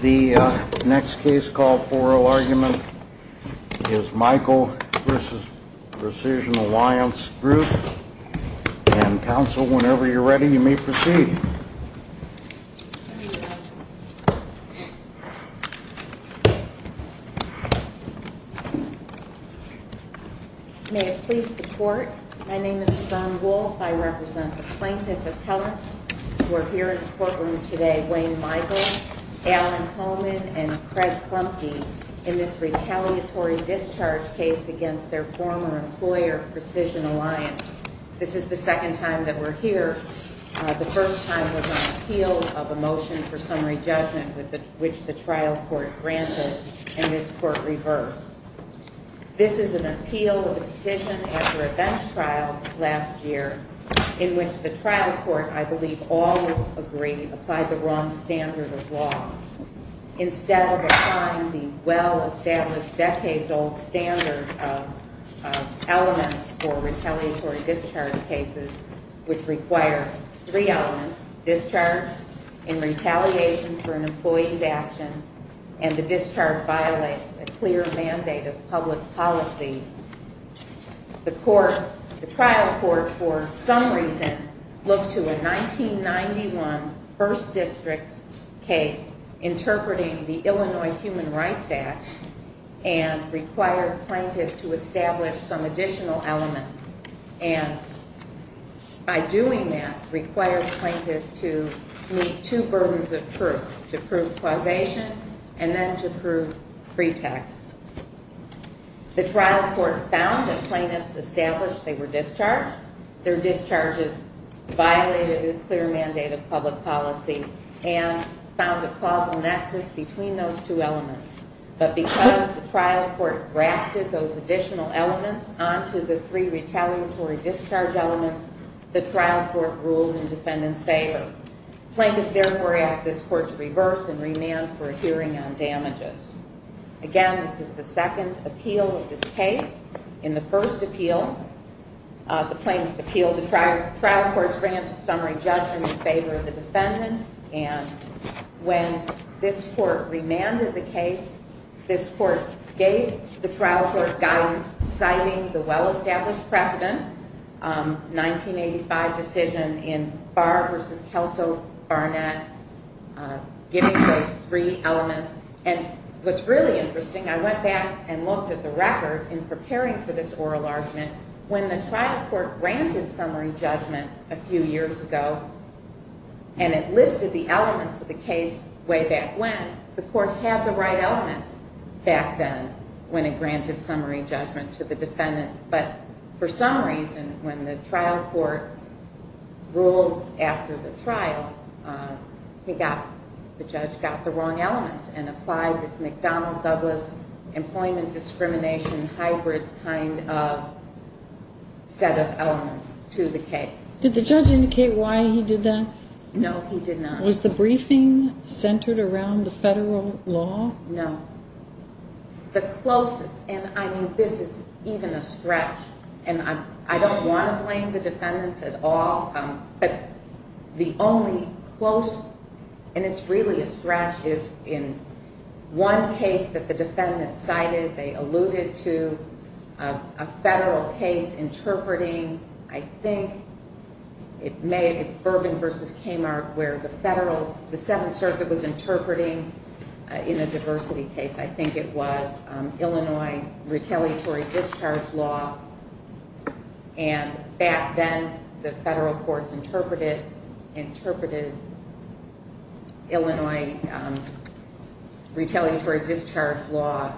The next case call for oral argument is Michael v. Precision Alliance Group and counsel, whenever you're ready, you may proceed. May it please the court, my name is Dawn Wolf, I represent the Plaintiff Appellants We're here in the courtroom today, Wayne Michael, Alan Holman, and Craig Klumke in this retaliatory discharge case against their former employer, Precision Alliance. This is the second time that we're here. The first time was an appeal of a motion for summary judgment which the trial court granted and this court reversed. This is an appeal of a decision after a bench trial last year in which the trial court, I believe all agreed, applied the wrong standard of law. Instead of applying the well-established decades-old standard of elements for retaliatory discharge cases which require three elements, discharge in retaliation for an employee's action and the discharge violates a clear mandate of public policy. The trial court, for some reason, looked to a 1991 1st District case interpreting the Illinois Human Rights Act and required plaintiffs to establish some additional elements and by doing that required plaintiffs to meet two burdens of proof to prove causation and then to prove pretext. The trial court found that plaintiffs established they were discharged, their discharges violated a clear mandate of public policy and found a causal nexus between those two elements. But because the trial court grafted those additional elements onto the three retaliatory discharge elements, the trial court ruled in defendant's favor. Plaintiffs therefore asked this court to reverse and remand for a hearing on damages. Again, this is the second appeal of this case. In the first appeal, the plaintiffs appealed the trial court's grant of summary judgment in favor of the defendant and when this court remanded the case, this court gave the trial court guidance citing the well-established precedent, 1985 decision in Barr v. Kelso-Barnett, giving those three elements. And what's really interesting, I went back and looked at the record in preparing for this oral argument. When the trial court granted summary judgment a few years ago and it listed the elements of the case way back when, the court had the right elements back then when it granted summary judgment to the defendant. But for some reason, when the trial court ruled after the trial, the judge got the wrong elements and applied this McDonnell-Douglas employment discrimination hybrid kind of set of elements to the case. Did the judge indicate why he did that? No, he did not. Was the briefing centered around the federal law? No. The closest, and I mean, this is even a stretch, and I don't want to blame the defendants at all, but the only close, and it's really a stretch, is in one case that the defendant cited, they alluded to a federal case interpreting, I think it may have been Bourbon v. Kmart, where the 7th Circuit was interpreting in a diversity case. I think it was Illinois retaliatory discharge law, and back then the federal courts interpreted Illinois retaliatory discharge law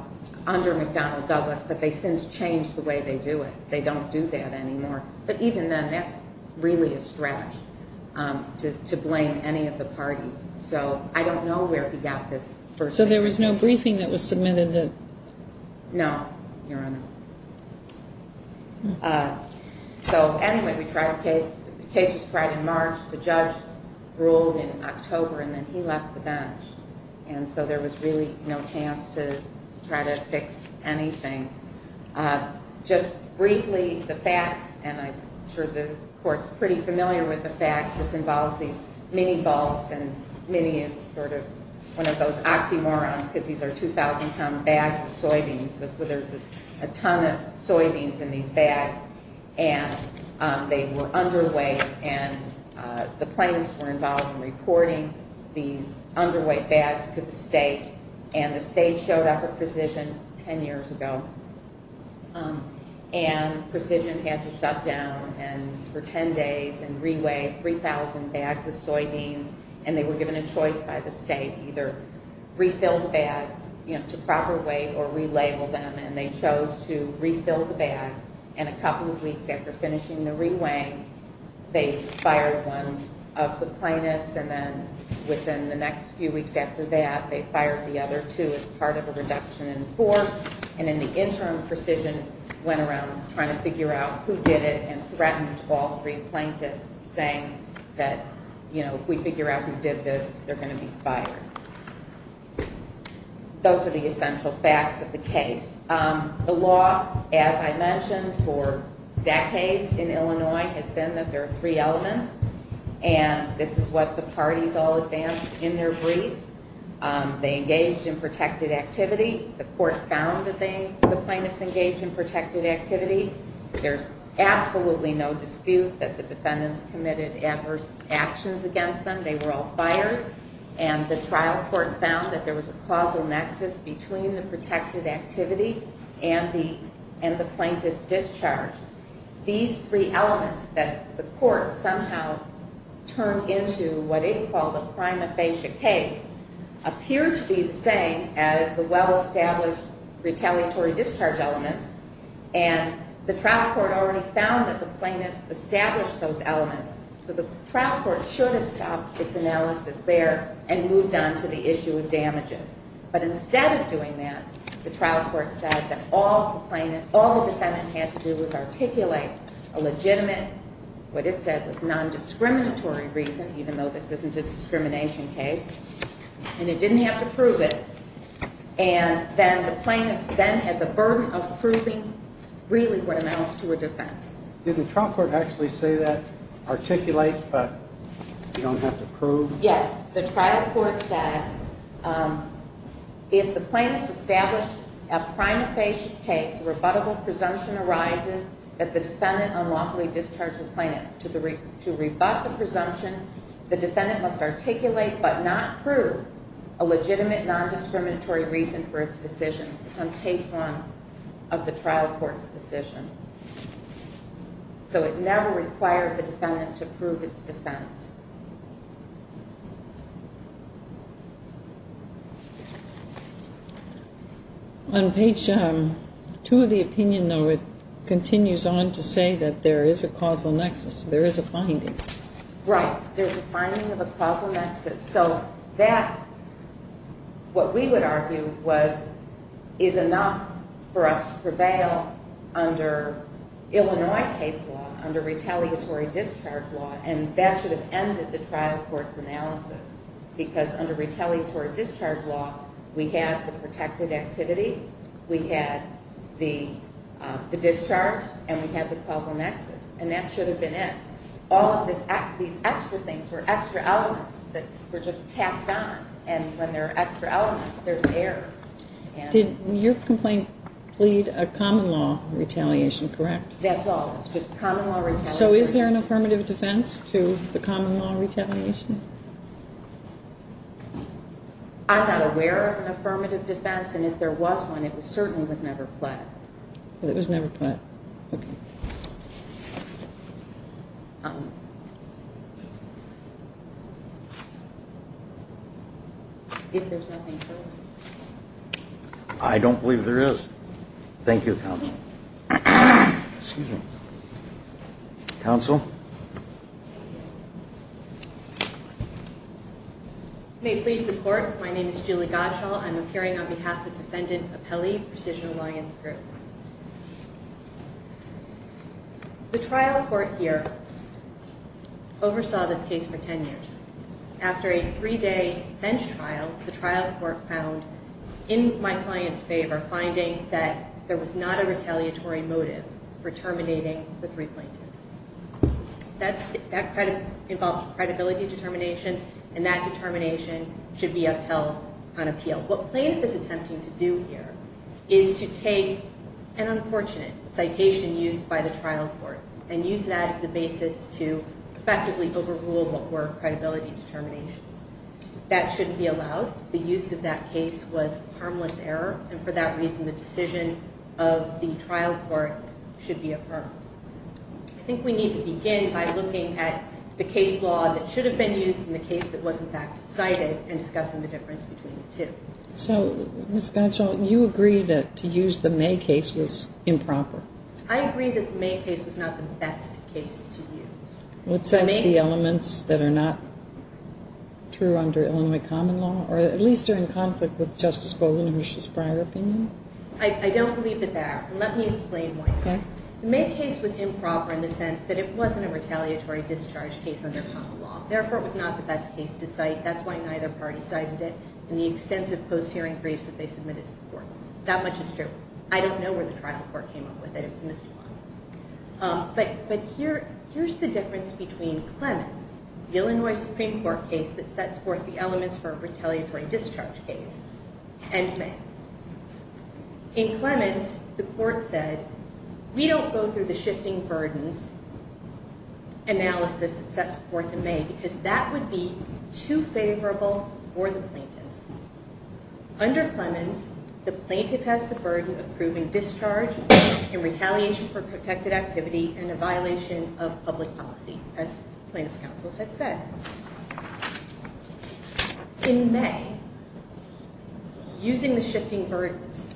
under McDonnell-Douglas, but they since changed the way they do it. They don't do that anymore. But even then, that's really a stretch to blame any of the parties. So I don't know where he got this first. So there was no briefing that was submitted? No, Your Honor. So anyway, the case was tried in March. The judge ruled in October, and then he left the bench, and so there was really no chance to try to fix anything. Just briefly, the facts, and I'm sure the Court's pretty familiar with the facts. This involves these mini-bulks, and mini is sort of one of those oxymorons because these are 2,000-pound bags of soybeans. So there's a ton of soybeans in these bags, and they were underweight, and the plaintiffs were involved in reporting these underweight bags to the state, and the state showed up at Precision 10 years ago. And Precision had to shut down for 10 days and reweigh 3,000 bags of soybeans, and they were given a choice by the state, either refill the bags to proper weight or relabel them, and they chose to refill the bags. And a couple of weeks after finishing the reweighing, they fired one of the plaintiffs, and then within the next few weeks after that, they fired the other two as part of a reduction in force. And in the interim, Precision went around trying to figure out who did it and threatened all three plaintiffs, saying that, you know, if we figure out who did this, they're going to be fired. Those are the essential facts of the case. The law, as I mentioned, for decades in Illinois has been that there are three elements, and this is what the parties all advanced in their briefs. They engaged in protected activity. The court found that the plaintiffs engaged in protected activity. There's absolutely no dispute that the defendants committed adverse actions against them. They were all fired, and the trial court found that there was a causal nexus between the protected activity and the plaintiff's discharge. These three elements that the court somehow turned into what it called a prima facie case appear to be the same as the well-established retaliatory discharge elements, and the trial court already found that the plaintiffs established those elements, so the trial court should have stopped its analysis there and moved on to the issue of damages. But instead of doing that, the trial court said that all the defendant had to do was articulate a legitimate, what it said was non-discriminatory reason, even though this isn't a discrimination case, and it didn't have to prove it, and then the plaintiffs then had the burden of proving really what amounts to a defense. Did the trial court actually say that, articulate but you don't have to prove? Yes. The trial court said if the plaintiffs established a prima facie case, a rebuttable presumption arises that the defendant unlawfully discharged the plaintiffs. To rebut the presumption, the defendant must articulate but not prove a legitimate non-discriminatory reason for its decision. It's on page one of the trial court's decision. So it never required the defendant to prove its defense. On page two of the opinion, though, it continues on to say that there is a causal nexus, there is a finding. Right. There's a finding of a causal nexus. So that, what we would argue, is enough for us to prevail under Illinois case law, because under retaliatory discharge law, we had the protected activity, we had the discharge, and we had the causal nexus, and that should have been it. All of these extra things were extra elements that were just tacked on, and when there are extra elements, there's error. Did your complaint plead a common law retaliation, correct? That's all. It's just common law retaliation. So is there an affirmative defense to the common law retaliation? I'm not aware of an affirmative defense, and if there was one, it certainly was never pled. It was never pled. Okay. Thank you, counsel. Excuse me. Counsel. You may please report. My name is Julie Gottschall. I'm appearing on behalf of Defendant Apelli, Precision Alliance Group. The trial court here oversaw this case for 10 years. After a three-day bench trial, the trial court found, in my client's favor, finding that there was not a retaliatory motive for terminating the three plaintiffs. That involved credibility determination, and that determination should be upheld on appeal. What plaintiff is attempting to do here is to take an unfortunate citation used by the trial court and use that as the basis to effectively overrule what were credibility determinations. That shouldn't be allowed. The use of that case was a harmless error, and for that reason the decision of the trial court should be affirmed. I think we need to begin by looking at the case law that should have been used in the case that was, in fact, cited and discussing the difference between the two. So, Ms. Gottschall, you agree that to use the May case was improper. I agree that the May case was not the best case to use. What sets the elements that are not true under Illinois common law, or at least are in conflict with Justice Bogan and his prior opinion? I don't believe that they are. Let me explain why. Okay. The May case was improper in the sense that it wasn't a retaliatory discharge case under common law. Therefore, it was not the best case to cite. That's why neither party cited it in the extensive post-hearing briefs that they submitted to court. That much is true. I don't know where the trial court came up with it. It was Ms. Duvall. But here's the difference between Clemens, the Illinois Supreme Court case that sets forth the elements for a retaliatory discharge case, and May. In Clemens, the court said, we don't go through the shifting burdens analysis that sets forth in May because that would be too favorable for the plaintiffs. Under Clemens, the plaintiff has the burden of proving discharge in retaliation for protected activity and a violation of public policy, as plaintiff's counsel has said. In May, using the shifting burdens,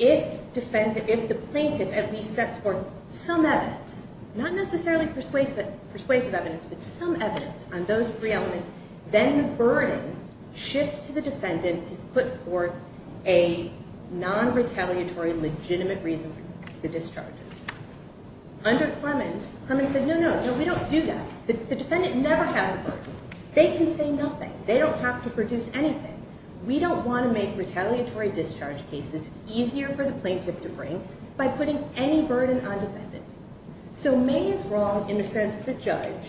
if the plaintiff at least sets forth some evidence, not necessarily persuasive evidence, but some evidence on those three elements, then the burden shifts to the defendant to put forth a non-retaliatory, legitimate reason for the discharges. Under Clemens, Clemens said, no, no, no, we don't do that. The defendant never has a burden. They can say nothing. They don't have to produce anything. We don't want to make retaliatory discharge cases easier for the plaintiff to bring by putting any burden on defendant. So May is wrong in the sense that the judge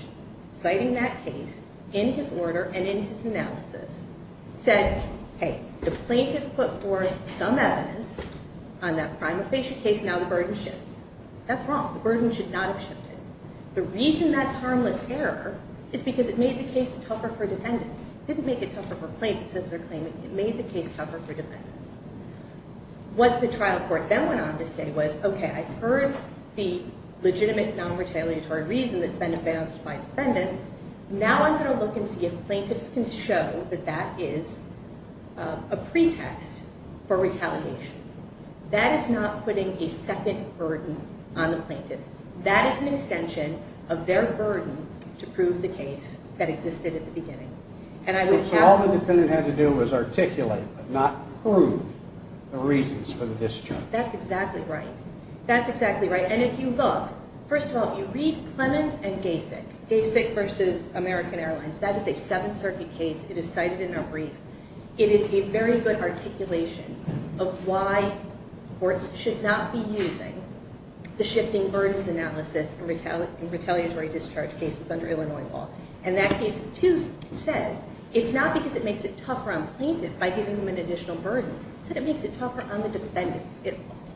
citing that case in his order and in his analysis said, hey, the plaintiff put forth some evidence on that prima facie case, now the burden shifts. That's wrong. The burden should not have shifted. The reason that's harmless error is because it made the case tougher for defendants. It didn't make it tougher for plaintiffs as they're claiming. It made the case tougher for defendants. What the trial court then went on to say was, okay, I've heard the legitimate non-retaliatory reason that's been advanced by defendants. Now I'm going to look and see if plaintiffs can show that that is a pretext for retaliation. That is not putting a second burden on the plaintiffs. That is an extension of their burden to prove the case that existed at the beginning. So all the defendant had to do was articulate, but not prove the reasons for the discharge. That's exactly right. That's exactly right. And if you look, first of all, if you read Clemens and Gasek, Gasek versus American Airlines, that is a Seventh Circuit case. It is cited in our brief. It is a very good articulation of why courts should not be using the shifting burdens analysis in retaliatory discharge cases under Illinois law. And that case, too, says it's not because it makes it tougher on plaintiffs by giving them an additional burden. It's that it makes it tougher on the defendants.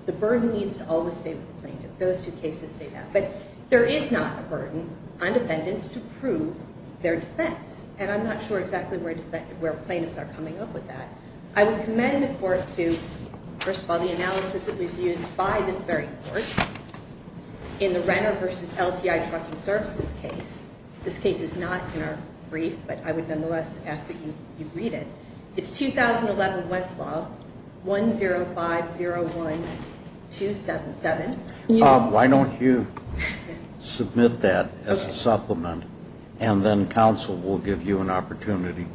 The burden leads to all the state of the plaintiff. Those two cases say that. But there is not a burden on defendants to prove their defense. And I'm not sure exactly where plaintiffs are coming up with that. I would commend the court to, first of all, the analysis that was used by this very court in the Renner versus LTI trucking services case. This case is not in our brief, but I would nonetheless ask that you read it. It's 2011 Westlaw 10501277. Why don't you submit that as a supplement, and then counsel will give you an opportunity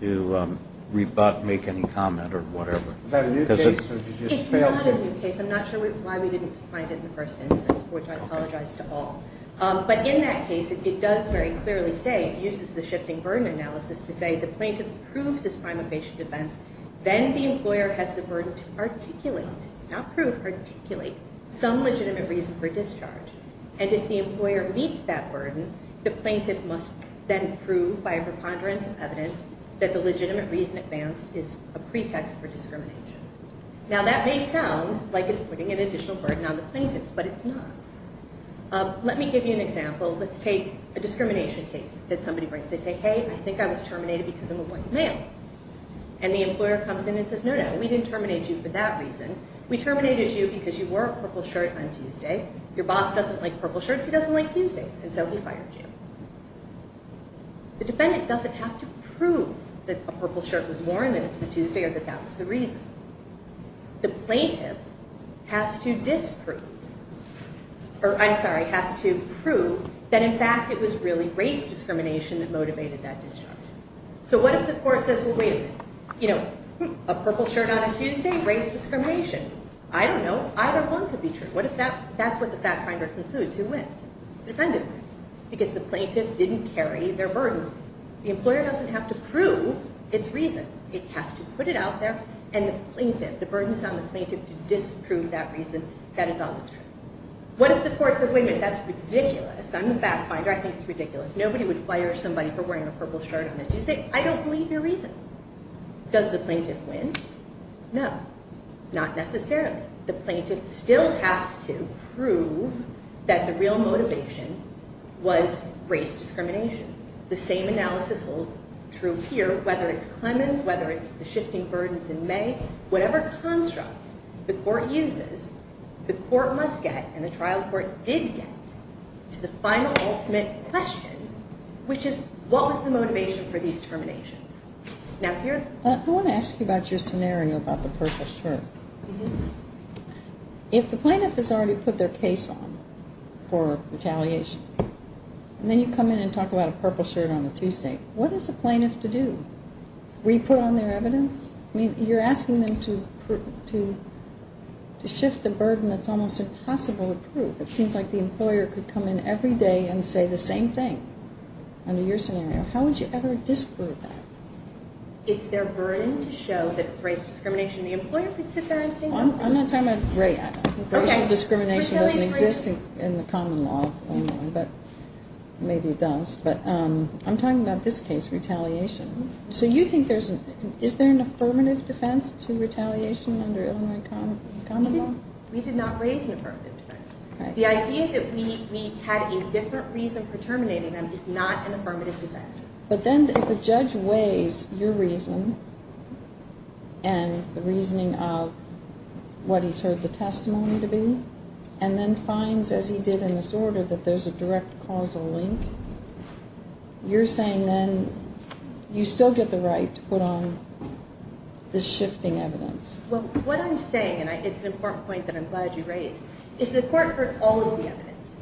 to rebut, make any comment or whatever. Is that a new case? It's not a new case. I'm not sure why we didn't find it in the first instance, which I apologize to all. But in that case, it does very clearly say, it uses the shifting burden analysis to say the plaintiff proves his prime evasion defense, then the employer has the burden to articulate, not prove, articulate some legitimate reason for discharge. And if the employer meets that burden, the plaintiff must then prove by a preponderance of evidence that the legitimate reason advanced is a pretext for discrimination. Now that may sound like it's putting an additional burden on the plaintiffs, but it's not. Let me give you an example. Let's take a discrimination case that somebody brings. They say, hey, I think I was terminated because I'm a white male. And the employer comes in and says, no, no, we didn't terminate you for that reason. We terminated you because you wore a purple shirt on Tuesday. Your boss doesn't like purple shirts. He doesn't like Tuesdays. And so he fired you. The defendant doesn't have to prove that a purple shirt was worn, that it was a Tuesday, or that that was the reason. The plaintiff has to disprove, or I'm sorry, has to prove that, in fact, it was really race discrimination that motivated that discharge. So what if the court says, well, wait a minute, a purple shirt on a Tuesday, race discrimination. I don't know. Either one could be true. That's what the fact finder concludes. Who wins? The defendant wins because the plaintiff didn't carry their burden. The employer doesn't have to prove its reason. It has to put it out there, and the plaintiff, the burden is on the plaintiff to disprove that reason. That is always true. What if the court says, wait a minute, that's ridiculous. I'm the fact finder. I think it's ridiculous. Nobody would fire somebody for wearing a purple shirt on a Tuesday. I don't believe your reason. Does the plaintiff win? No. Not necessarily. The plaintiff still has to prove that the real motivation was race discrimination. The same analysis holds true here, whether it's Clemens, whether it's the shifting burdens in May. Whatever construct the court uses, the court must get, and the trial court did get, to the final ultimate question, which is what was the motivation for these terminations? Now, here. I want to ask you about your scenario about the purple shirt. If the plaintiff has already put their case on for retaliation, and then you come in and talk about a purple shirt on a Tuesday, what is the plaintiff to do? Re-put on their evidence? You're asking them to shift the burden that's almost impossible to prove. It seems like the employer could come in every day and say the same thing under your scenario. How would you ever disprove that? It's their burden to show that it's race discrimination. The employer could sit there and say no. I'm not talking about race. Racial discrimination doesn't exist in the common law, but maybe it does. But I'm talking about this case, retaliation. So you think there's an affirmative defense to retaliation under Illinois common law? We did not raise an affirmative defense. The idea that we had a different reason for terminating them is not an affirmative defense. But then if a judge weighs your reason and the reasoning of what he's heard the testimony to be, and then finds, as he did in this order, that there's a direct causal link, you're saying then you still get the right to put on the shifting evidence. Well, what I'm saying, and it's an important point that I'm glad you raised, is the court heard all of the evidence.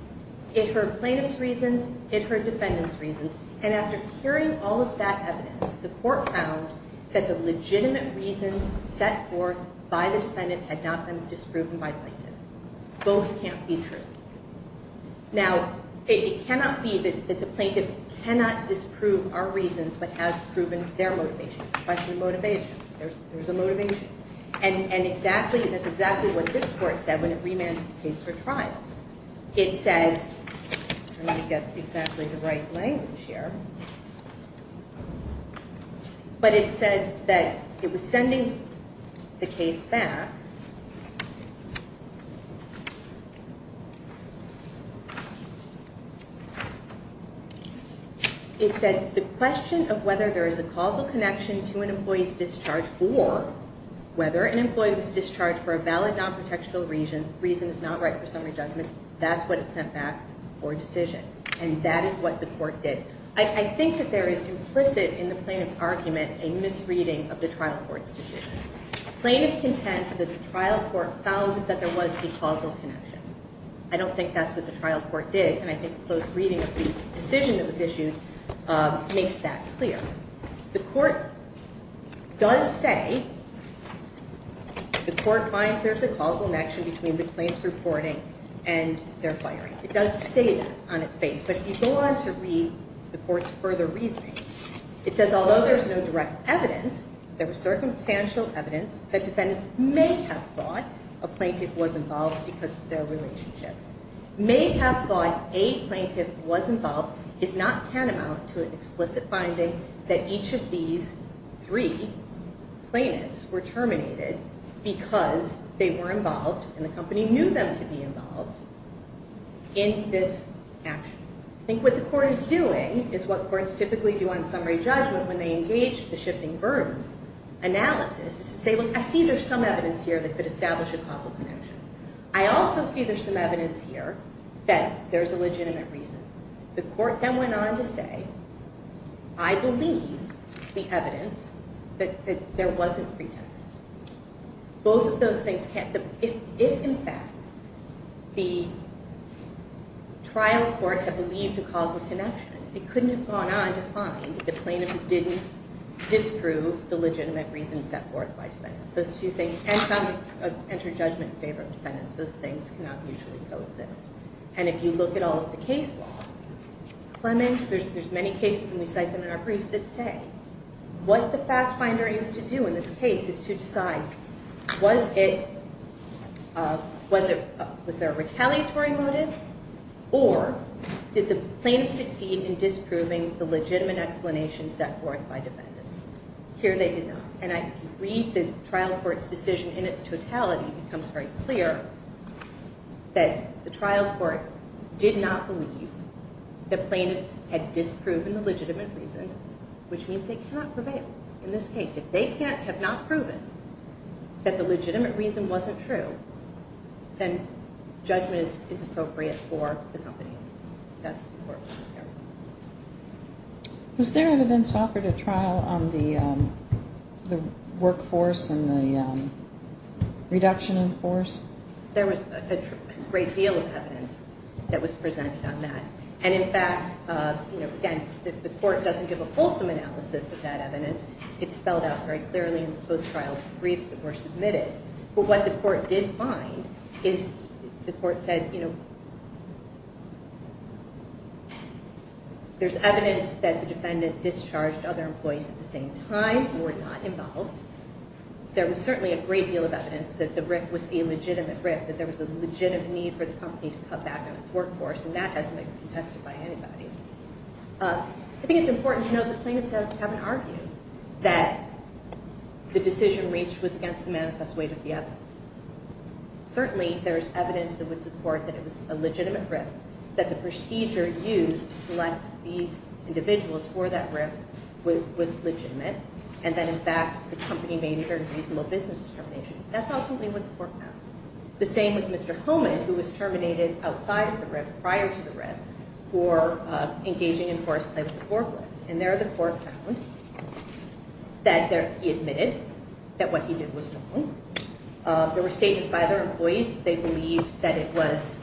It heard plaintiff's reasons. It heard defendant's reasons. And after hearing all of that evidence, the court found that the legitimate reasons set forth by the defendant had not been disproven by the plaintiff. Both can't be true. Now, it cannot be that the plaintiff cannot disprove our reasons, but has proven their motivations. It's a question of motivation. There's a motivation. And that's exactly what this court said when it remanded the case for trial. It said, I'm going to get exactly the right language here, but it said that it was sending the case back. It said, the question of whether there is a causal connection to an employee's discharge or whether an employee was discharged for a valid non-protectional reason is not right for summary judgment. That's what it sent back for a decision. And that is what the court did. I think that there is implicit in the plaintiff's argument a misreading of the trial court's decision. Plaintiff contends that the trial court found that there was a causal connection. I don't think that's what the trial court did, and I think a close reading of the decision that was issued makes that clear. The court does say, the court finds there's a causal connection between the plaintiff's reporting and their firing. It does say that on its face, but if you go on to read the court's further reasoning, it says, although there's no direct evidence, there was circumstantial evidence that defendants may have thought a plaintiff was involved because of their relationships. May have thought a plaintiff was involved is not tantamount to an explicit finding that each of these three plaintiffs were terminated because they were involved, and the company knew them to be involved in this action. I think what the court is doing is what courts typically do on summary judgment when they engage the shifting burdens analysis, is to say, look, I see there's some evidence here that could establish a causal connection. I also see there's some evidence here that there's a legitimate reason. The court then went on to say, I believe the evidence that there wasn't pretext. Both of those things can't... If, in fact, the trial court had believed a causal connection, it couldn't have gone on to find that the plaintiff didn't disprove the legitimate reason set forth by defendants. Those two things cannot enter judgment in favor of defendants. Those things cannot mutually coexist. And if you look at all of the case law, Clements, there's many cases, and we cite them in our brief, that say what the fact finder is to do in this case is to decide was there a retaliatory motive, or did the plaintiff succeed in disproving the legitimate explanation set forth by defendants? Here they did not. And I read the trial court's decision in its totality. It becomes very clear that the trial court did not believe the plaintiffs had disproven the legitimate reason, which means they cannot prevail in this case. If they have not proven that the legitimate reason wasn't true, then judgment is appropriate for the company. That's what the court found here. Was there evidence offered at trial on the workforce and the reduction in force? There was a great deal of evidence that was presented on that. And, in fact, again, the court doesn't give a fulsome analysis of that evidence. It's spelled out very clearly in the post-trial briefs that were submitted. But what the court did find is the court said, you know, there's evidence that the defendant discharged other employees at the same time and were not involved. There was certainly a great deal of evidence that the writ was a legitimate writ, that there was a legitimate need for the company to cut back on its workforce, and that hasn't been contested by anybody. I think it's important to note that plaintiffs haven't argued that the decision reached was against the manifest weight of the evidence. Certainly there is evidence that would support that it was a legitimate writ, that the procedure used to select these individuals for that writ was legitimate, and that, in fact, the company made it a reasonable business determination. That's ultimately what the court found. The same with Mr. Homan, who was terminated outside of the writ, prior to the writ, for engaging in forced play with the forklift. And there the court found that he admitted that what he did was wrong. There were statements by other employees that they believed that it was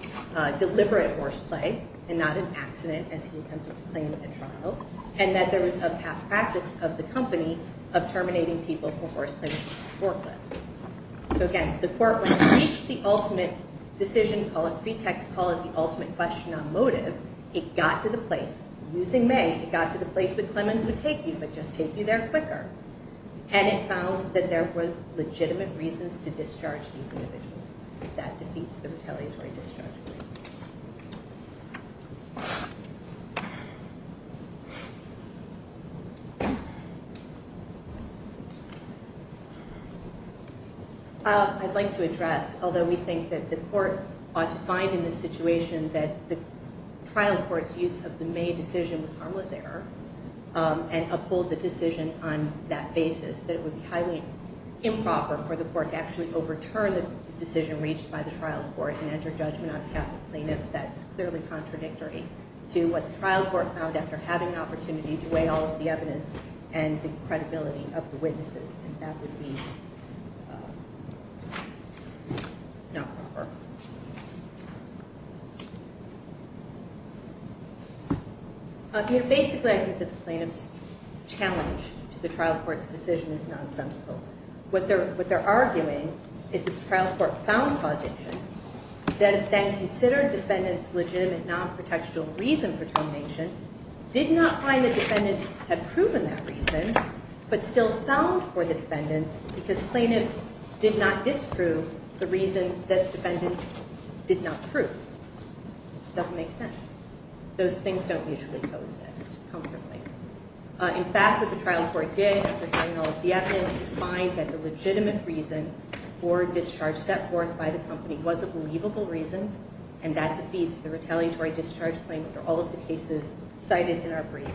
deliberate forced play and not an accident as he attempted to claim at trial, and that there was a past practice of the company of terminating people for forced play with the forklift. So, again, the court, when it reached the ultimate decision, call it pretext, call it the ultimate question on motive, it got to the place, using May, it got to the place that Clemens would take you, but just take you there quicker, and it found that there were legitimate reasons to discharge these individuals. That defeats the retaliatory discharge rule. I'd like to address, although we think that the court ought to find in this situation that the trial court's use of the May decision was harmless error and uphold the decision on that basis, that it would be highly improper for the court to actually overturn the decision reached by the trial court and enter judgment on behalf of plaintiffs. That's clearly contradictory to what the trial court found after having an opportunity to weigh all of the evidence and the credibility of the witnesses, and that would be not proper. Basically, I think that the plaintiff's challenge to the trial court's decision is nonsensical. What they're arguing is that the trial court found causation, then considered defendants' legitimate non-protectional reason for termination, did not find the defendants had proven that reason, but still found for the defendants, because plaintiffs did not disprove the reason that the defendants did not prove. It doesn't make sense. Those things don't mutually coexist comfortably. In fact, what the trial court did after weighing all of the evidence was find that the legitimate reason for discharge set forth by the company was a believable reason, and that defeats the retaliatory discharge claim under all of the cases cited in our brief.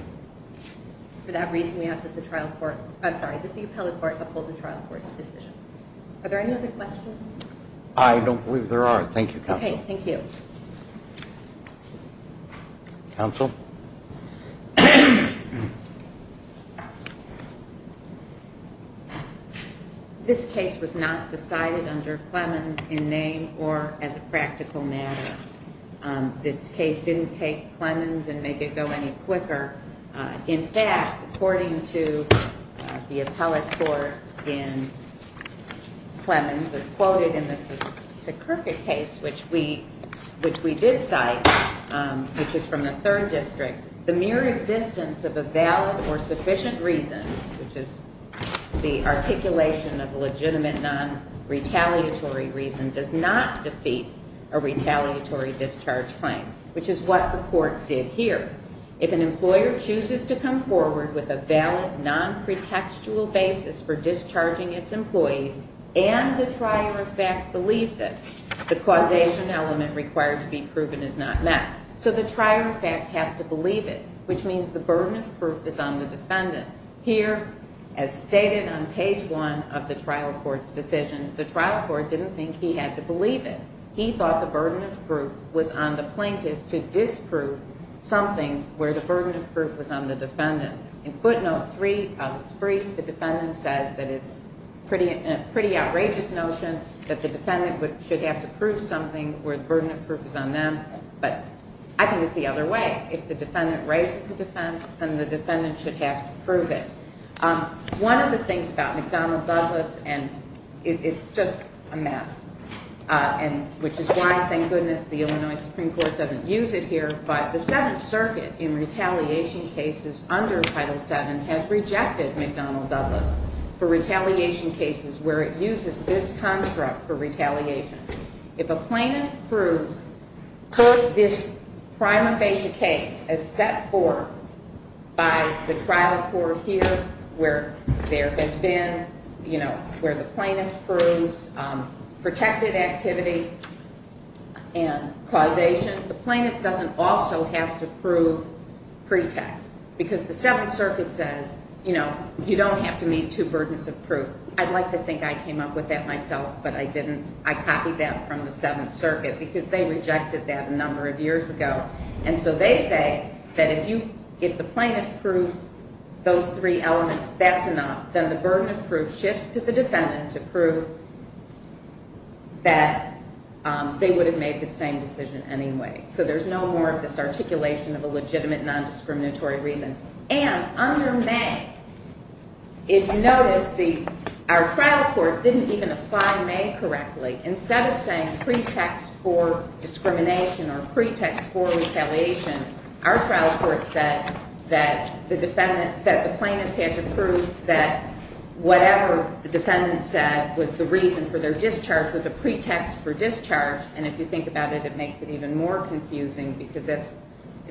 For that reason, we ask that the trial court, I'm sorry, that the appellate court uphold the trial court's decision. Are there any other questions? I don't believe there are. Thank you, counsel. Okay, thank you. Counsel? This case was not decided under Clemens in name or as a practical matter. This case didn't take Clemens and make it go any quicker. In fact, according to the appellate court in Clemens, it was quoted in the Sicurka case, which we did cite, which is from the third district, the mere existence of a valid or sufficient reason, which is the articulation of a legitimate non-retaliatory reason, does not defeat a retaliatory discharge claim, which is what the court did here. If an employer chooses to come forward with a valid, non-pretextual basis for discharging its employees and the trier of fact believes it, the causation element required to be proven is not met. So the trier of fact has to believe it, which means the burden of proof is on the defendant. Here, as stated on page one of the trial court's decision, the trial court didn't think he had to believe it. He thought the burden of proof was on the plaintiff to disprove something where the burden of proof was on the defendant. In footnote 3 of its brief, the defendant says that it's a pretty outrageous notion that the defendant should have to prove something where the burden of proof is on them, but I think it's the other way. If the defendant raises a defense, then the defendant should have to prove it. One of the things about McDonnell Douglas, and it's just a mess, which is why, thank goodness, the Illinois Supreme Court doesn't use it here, but the Seventh Circuit in retaliation cases under Title VII has rejected McDonnell Douglas for retaliation cases where it uses this construct for retaliation. If a plaintiff proves this prima facie case as set forth by the trial court here where there has been, you know, where the plaintiff proves protected activity and causation, the plaintiff doesn't also have to prove pretext because the Seventh Circuit says, you know, you don't have to meet two burdens of proof. I'd like to think I came up with that myself, but I didn't. I copied that from the Seventh Circuit because they rejected that a number of years ago, and so they say that if the plaintiff proves those three elements, that's enough, then the burden of proof shifts to the defendant to prove that they would have made the same decision anyway. So there's no more of this articulation of a legitimate nondiscriminatory reason. And under May, if you notice, our trial court didn't even apply May correctly. Instead of saying pretext for discrimination or pretext for retaliation, our trial court said that the plaintiffs have to prove that whatever the defendant said was the reason for their discharge was a pretext for discharge, and if you think about it, it makes it even more confusing because it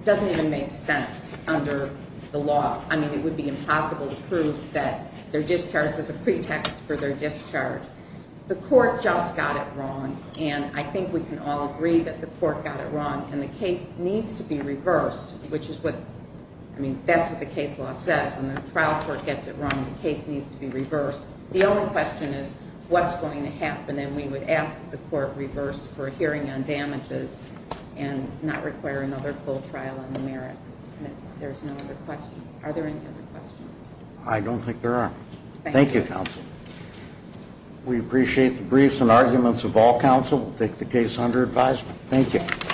doesn't even make sense under the law. I mean, it would be impossible to prove that their discharge was a pretext for their discharge. The court just got it wrong, and I think we can all agree that the court got it wrong, and the case needs to be reversed, which is what... I mean, that's what the case law says. When the trial court gets it wrong, the case needs to be reversed. The only question is what's going to happen, and we would ask that the court reverse for a hearing on damages and not require another full trial on the merits. There's no other question. Are there any other questions? I don't think there are. Thank you, counsel. We appreciate the briefs and arguments of all counsel. We'll take the case under advisement. Thank you.